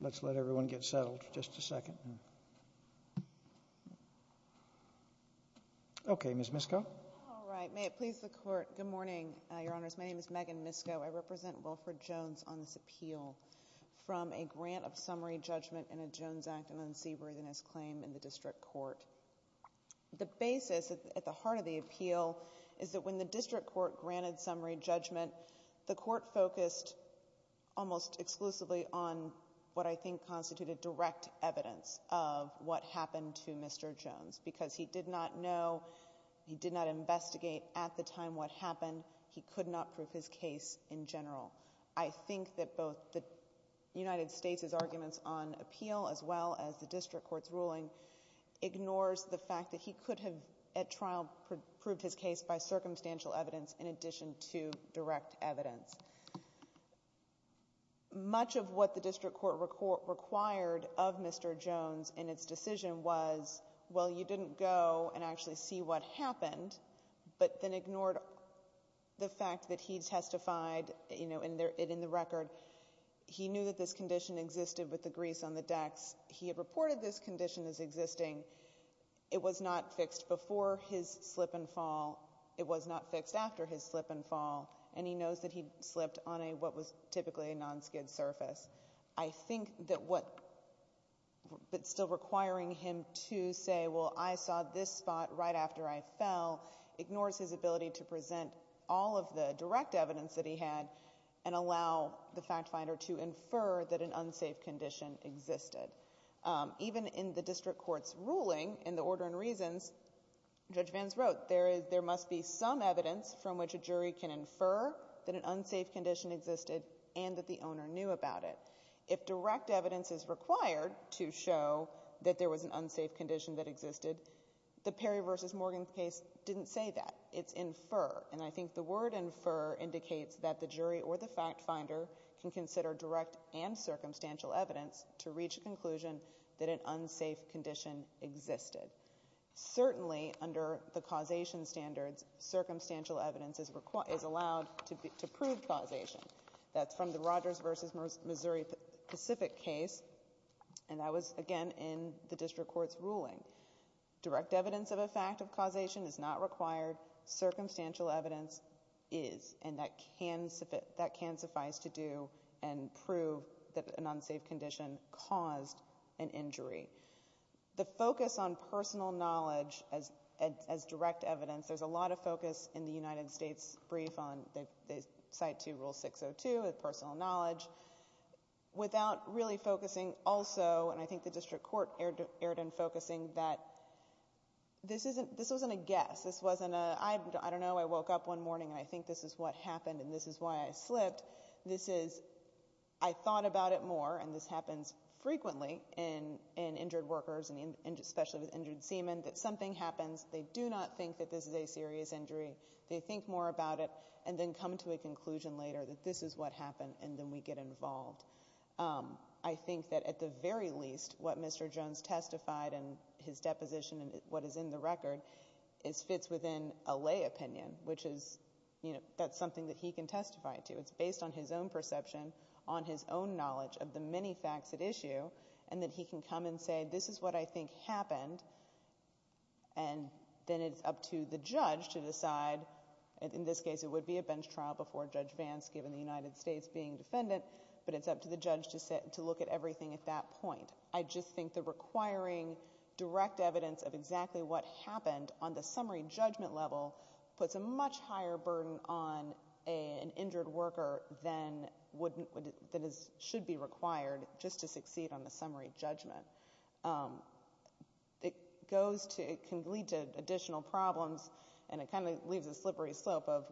Let's let everyone get settled for just a second. Okay, Ms. Misko. All right. May it please the Court. Good morning, Your Honors. My name is Megan Misko. I represent Wilfred Jones on this appeal from a grant of summary judgment in a Jones Act and unseaworthiness claim in the district court. The basis at the heart of the appeal is that when the district court granted summary judgment, the court focused almost exclusively on what I think constituted direct evidence of what happened to Mr. Jones because he did not know, he did not investigate at the time what happened. He could not prove his case in general. I think that both the United States' arguments on appeal as well as the district court's ruling ignores the fact that he could have at trial proved his case by circumstantial evidence in addition to direct evidence. Much of what the district court required of Mr. Jones in its decision was, well, you didn't go and actually see what happened, but then ignored the fact that he testified, you know, in the record. He knew that this condition existed with the grease on the decks. He had reported this condition as existing. It was not fixed before his slip and fall. It was not fixed after his slip and fall. And he knows that he slipped on what was typically a non-skid surface. I think that what's still requiring him to say, well, I saw this spot right after I fell, ignores his ability to present all of the direct evidence that he had and allow the fact finder to infer that an unsafe condition existed. Even in the district court's ruling, in the order and reasons, Judge Vance wrote, there must be some evidence from which a jury can infer that an unsafe condition existed and that the owner knew about it. If direct evidence is required to show that there was an unsafe condition that existed, the Perry v. Morgan case didn't say that. It's infer. And I think the word infer indicates that the jury or the fact finder can consider direct and circumstantial evidence to reach a conclusion that an unsafe condition existed. Certainly, under the causation standards, circumstantial evidence is allowed to prove causation. That's from the Rogers v. Missouri Pacific case. And that was, again, in the district court's ruling. Direct evidence of a fact of causation is not required. Circumstantial evidence is. And that can suffice to do and prove that an unsafe condition caused an injury. The focus on personal knowledge as direct evidence, there's a lot of focus in the United States brief on the Site 2 Rule 602, personal knowledge, without really focusing also, and I think the district court erred in focusing that this wasn't a guess. This wasn't a, I don't know, I woke up one morning and I think this is what happened and this is why I slipped. This is, I thought about it more, and this happens frequently in injured workers, especially with injured semen, that something happens, they do not think that this is a serious injury, they think more about it, and then come to a conclusion later that this is what happened, and then we get involved. I think that at the very least, what Mr. Jones testified and his deposition and what is in the record fits within a lay opinion, which is, you know, that's something that he can testify to. It's based on his own perception, on his own knowledge of the many facts at issue, and that he can come and say, this is what I think happened, and then it's up to the judge to decide. In this case, it would be a bench trial before Judge Vance, given the United States being defendant, but it's up to the judge to look at everything at that point. I just think the requiring direct evidence of exactly what happened on the summary judgment level puts a much higher burden on an injured worker than should be required just to succeed on the summary judgment. It can lead to additional problems, and it kind of leaves a slippery slope of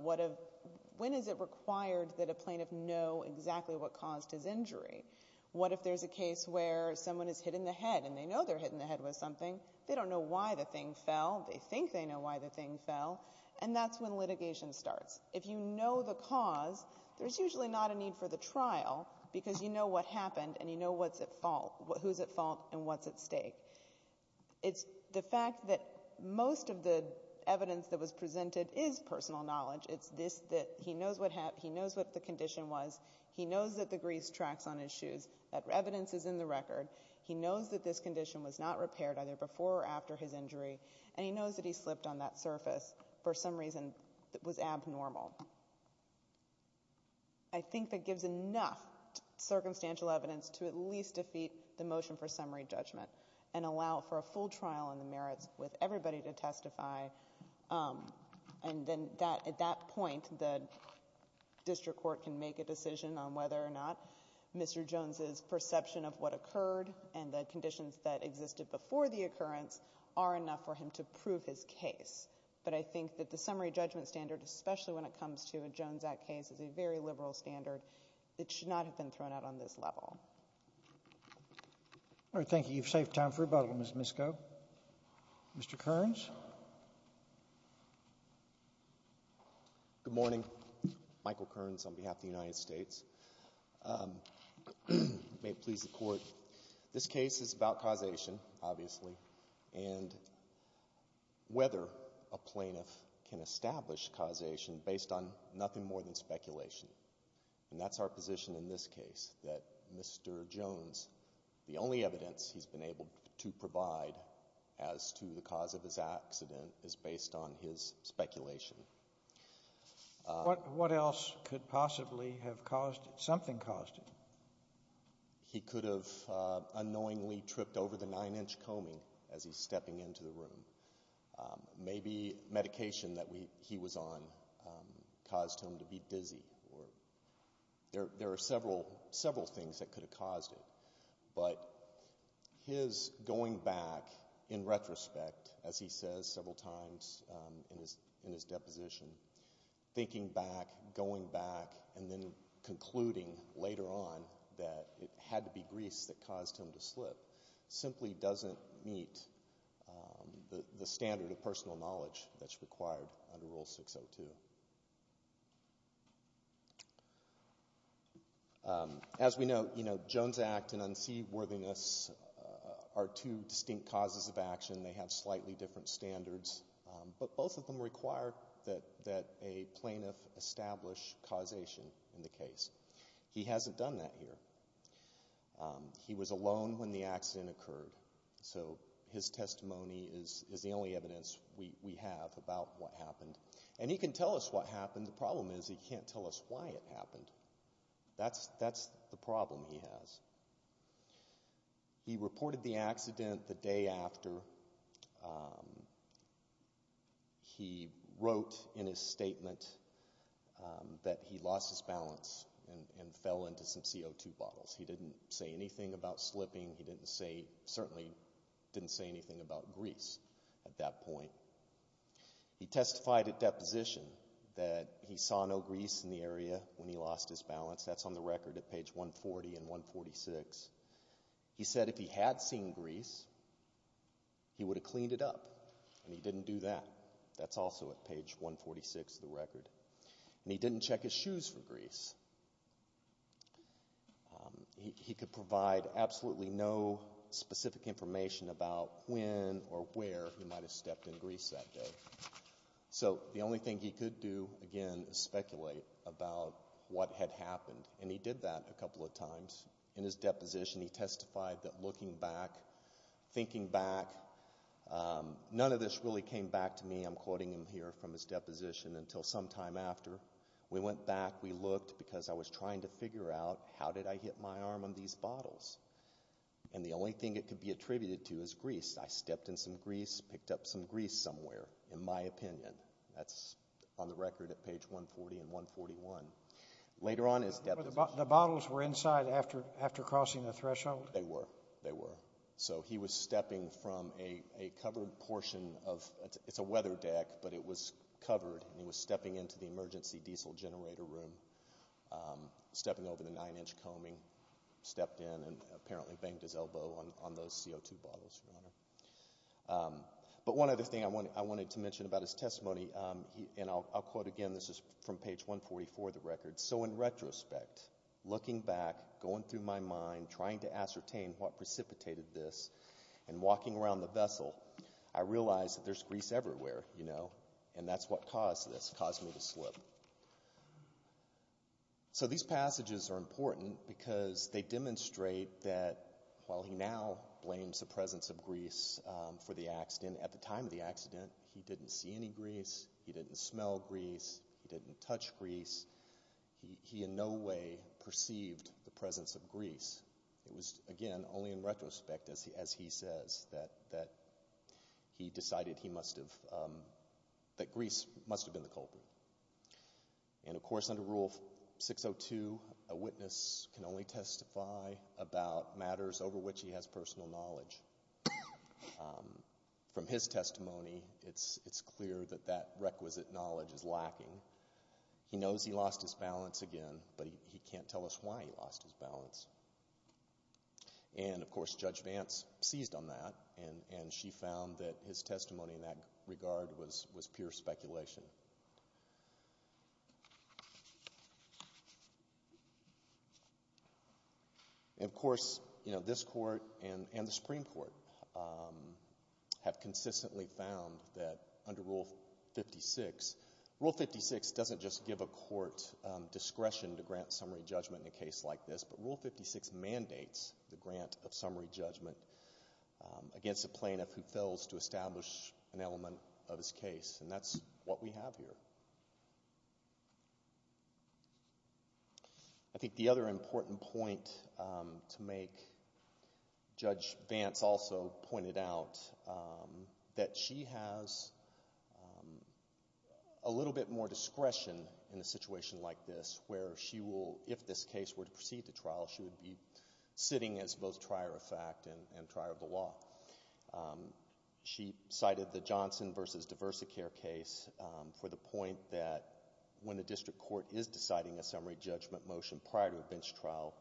when is it required that a plaintiff know exactly what caused his injury? What if there's a case where someone is hit in the head, and they know they're hit in the head with something, they don't know why the thing fell, they think they know why the thing fell, and that's when litigation starts. If you know the cause, there's usually not a need for the trial, because you know what happened, and you know what's at fault, who's at fault, and what's at stake. It's the fact that most of the evidence that was presented is personal knowledge. It's this, that he knows what the condition was, he knows that the grease tracks on his shoes, that evidence is in the record. He knows that this condition was not repaired either before or after his injury, and he knows that he slipped on that surface for some reason that was abnormal. I think that gives enough circumstantial evidence to at least defeat the motion for summary judgment and allow for a full trial on the merits with everybody to testify. And then at that point, the district court can make a decision on whether or not Mr. Jones' perception of what occurred and the conditions that existed before the occurrence are enough for him to prove his case. But I think that the summary judgment standard, especially when it comes to a Jones Act case, is a very liberal standard. It should not have been thrown out on this level. All right. Thank you. You've saved time for rebuttal, Ms. Misko. Mr. Kearns? Good morning. Michael Kearns on behalf of the United States. May it please the Court, this case is about causation, obviously, and whether a plaintiff can establish causation based on nothing more than speculation. And that's our position in this case, that Mr. Jones, the only evidence he's been able to provide as to the cause of his accident is based on his speculation. What else could possibly have caused it? Something caused it. He could have unknowingly tripped over the nine-inch combing as he's stepping into the room. Maybe medication that he was on caused him to be dizzy. There are several things that could have caused it. But his going back in retrospect, as he says several times in his deposition, thinking back, going back, and then concluding later on that it had to be grease that caused him to slip, simply doesn't meet the standard of personal knowledge that's required under Rule 602. As we know, Jones' act and unseaworthiness are two distinct causes of action. They have slightly different standards, but both of them require that a plaintiff establish causation in the case. He hasn't done that here. He was alone when the accident occurred, so his testimony is the only evidence we have about what happened. And he can tell us what happened. The problem is he can't tell us why it happened. That's the problem he has. He reported the accident the day after he wrote in his statement that he lost his balance and fell into some CO2 bottles. He didn't say anything about slipping. He certainly didn't say anything about grease at that point. He testified at deposition that he saw no grease in the area when he lost his balance. That's on the record at page 140 and 146. He said if he had seen grease, he would have cleaned it up, and he didn't do that. That's also at page 146 of the record. He could provide absolutely no specific information about when or where he might have stepped in grease that day. So the only thing he could do, again, is speculate about what had happened, and he did that a couple of times. In his deposition, he testified that looking back, thinking back, none of this really came back to me, I'm quoting him here from his deposition, until sometime after. We went back, we looked, because I was trying to figure out how did I hit my arm on these bottles. And the only thing it could be attributed to is grease. I stepped in some grease, picked up some grease somewhere, in my opinion. That's on the record at page 140 and 141. The bottles were inside after crossing the threshold? They were. They were. He was stepping from a covered portion of, it's a weather deck, but it was covered, and he was stepping into the emergency diesel generator room, stepping over the nine-inch combing, stepped in, and apparently banged his elbow on those CO2 bottles, Your Honor. But one other thing I wanted to mention about his testimony, and I'll quote again, this is from page 144 of the record. So in retrospect, looking back, going through my mind, trying to ascertain what precipitated this, and walking around the vessel, I realized that there's grease everywhere, you know, and that's what caused this, caused me to slip. So these passages are important because they demonstrate that while he now blames the presence of grease for the accident, and at the time of the accident, he didn't see any grease, he didn't smell grease, he didn't touch grease. He in no way perceived the presence of grease. It was, again, only in retrospect, as he says, that he decided he must have, that grease must have been the culprit. And of course, under Rule 602, a witness can only testify about matters over which he has personal knowledge. From his testimony, it's clear that that requisite knowledge is lacking. He knows he lost his balance again, but he can't tell us why he lost his balance. And of course, Judge Vance seized on that, and she found that his testimony in that regard was pure speculation. And of course, you know, this Court and the Supreme Court have consistently found that under Rule 56, Rule 56 doesn't just give a court discretion to grant summary judgment in a case like this, but Rule 56 mandates the grant of summary judgment against a plaintiff who fails to establish an element of his case. And that's what we have here. I think the other important point to make, Judge Vance also pointed out that she has a little bit more discretion in a situation like this, where she will, if this case were to proceed to trial, she would be sitting as both trier of fact and trier of the law. She cited the Johnson v. Diversicare case for the point that when the district court is deciding a summary judgment motion prior to a bench trial,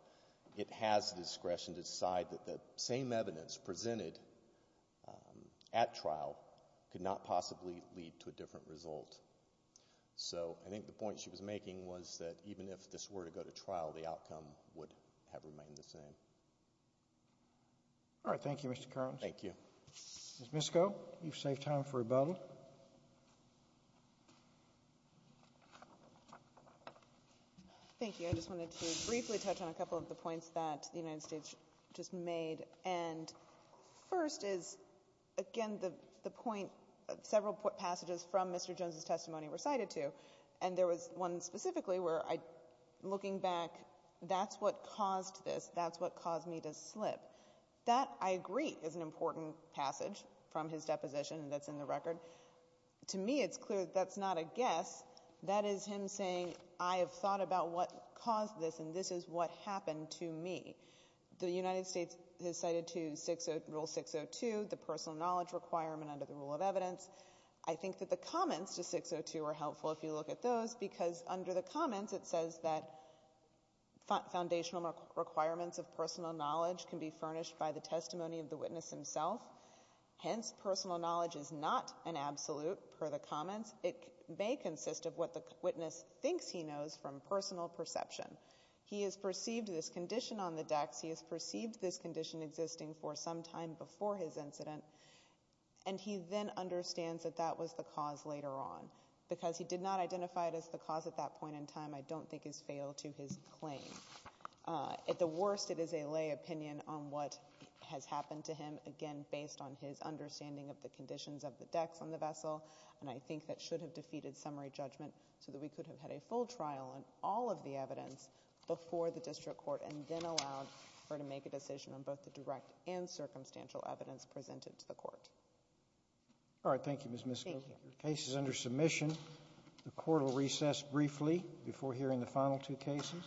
it has discretion to decide that the same evidence presented at trial could not possibly lead to a different result. So I think the point she was making was that even if this were to go to trial, the outcome would have remained the same. All right. Thank you, Mr. Carlins. Thank you. Ms. Misko, you've saved time for rebuttal. Thank you. I just wanted to briefly touch on a couple of the points that the United States just made. And first is, again, the point several passages from Mr. Jones' testimony recited to. And there was one specifically where I, looking back, that's what caused this. That's what caused me to slip. That, I agree, is an important passage from his deposition that's in the record. To me, it's clear that that's not a guess. That is him saying, I have thought about what caused this, and this is what happened to me. The United States has cited to Rule 602 the personal knowledge requirement under the rule of evidence. I think that the comments to 602 are helpful if you look at those, because under the comments, it says that foundational requirements of personal knowledge can be furnished by the testimony of the witness himself. Hence, personal knowledge is not an absolute, per the comments. It may consist of what the witness thinks he knows from personal perception. He has perceived this condition on the decks. He has perceived this condition existing for some time before his incident. And he then understands that that was the cause later on. Because he did not identify it as the cause at that point in time, I don't think is fatal to his claim. At the worst, it is a lay opinion on what has happened to him, again, based on his understanding of the conditions of the decks on the vessel. And I think that should have defeated summary judgment so that we could have had a full trial on all of the evidence before the district court and then allowed her to make a decision on both the direct and circumstantial evidence presented to the court. All right. Thank you, Ms. Musgrove. Your case is under submission. The court will recess briefly before hearing the final two cases.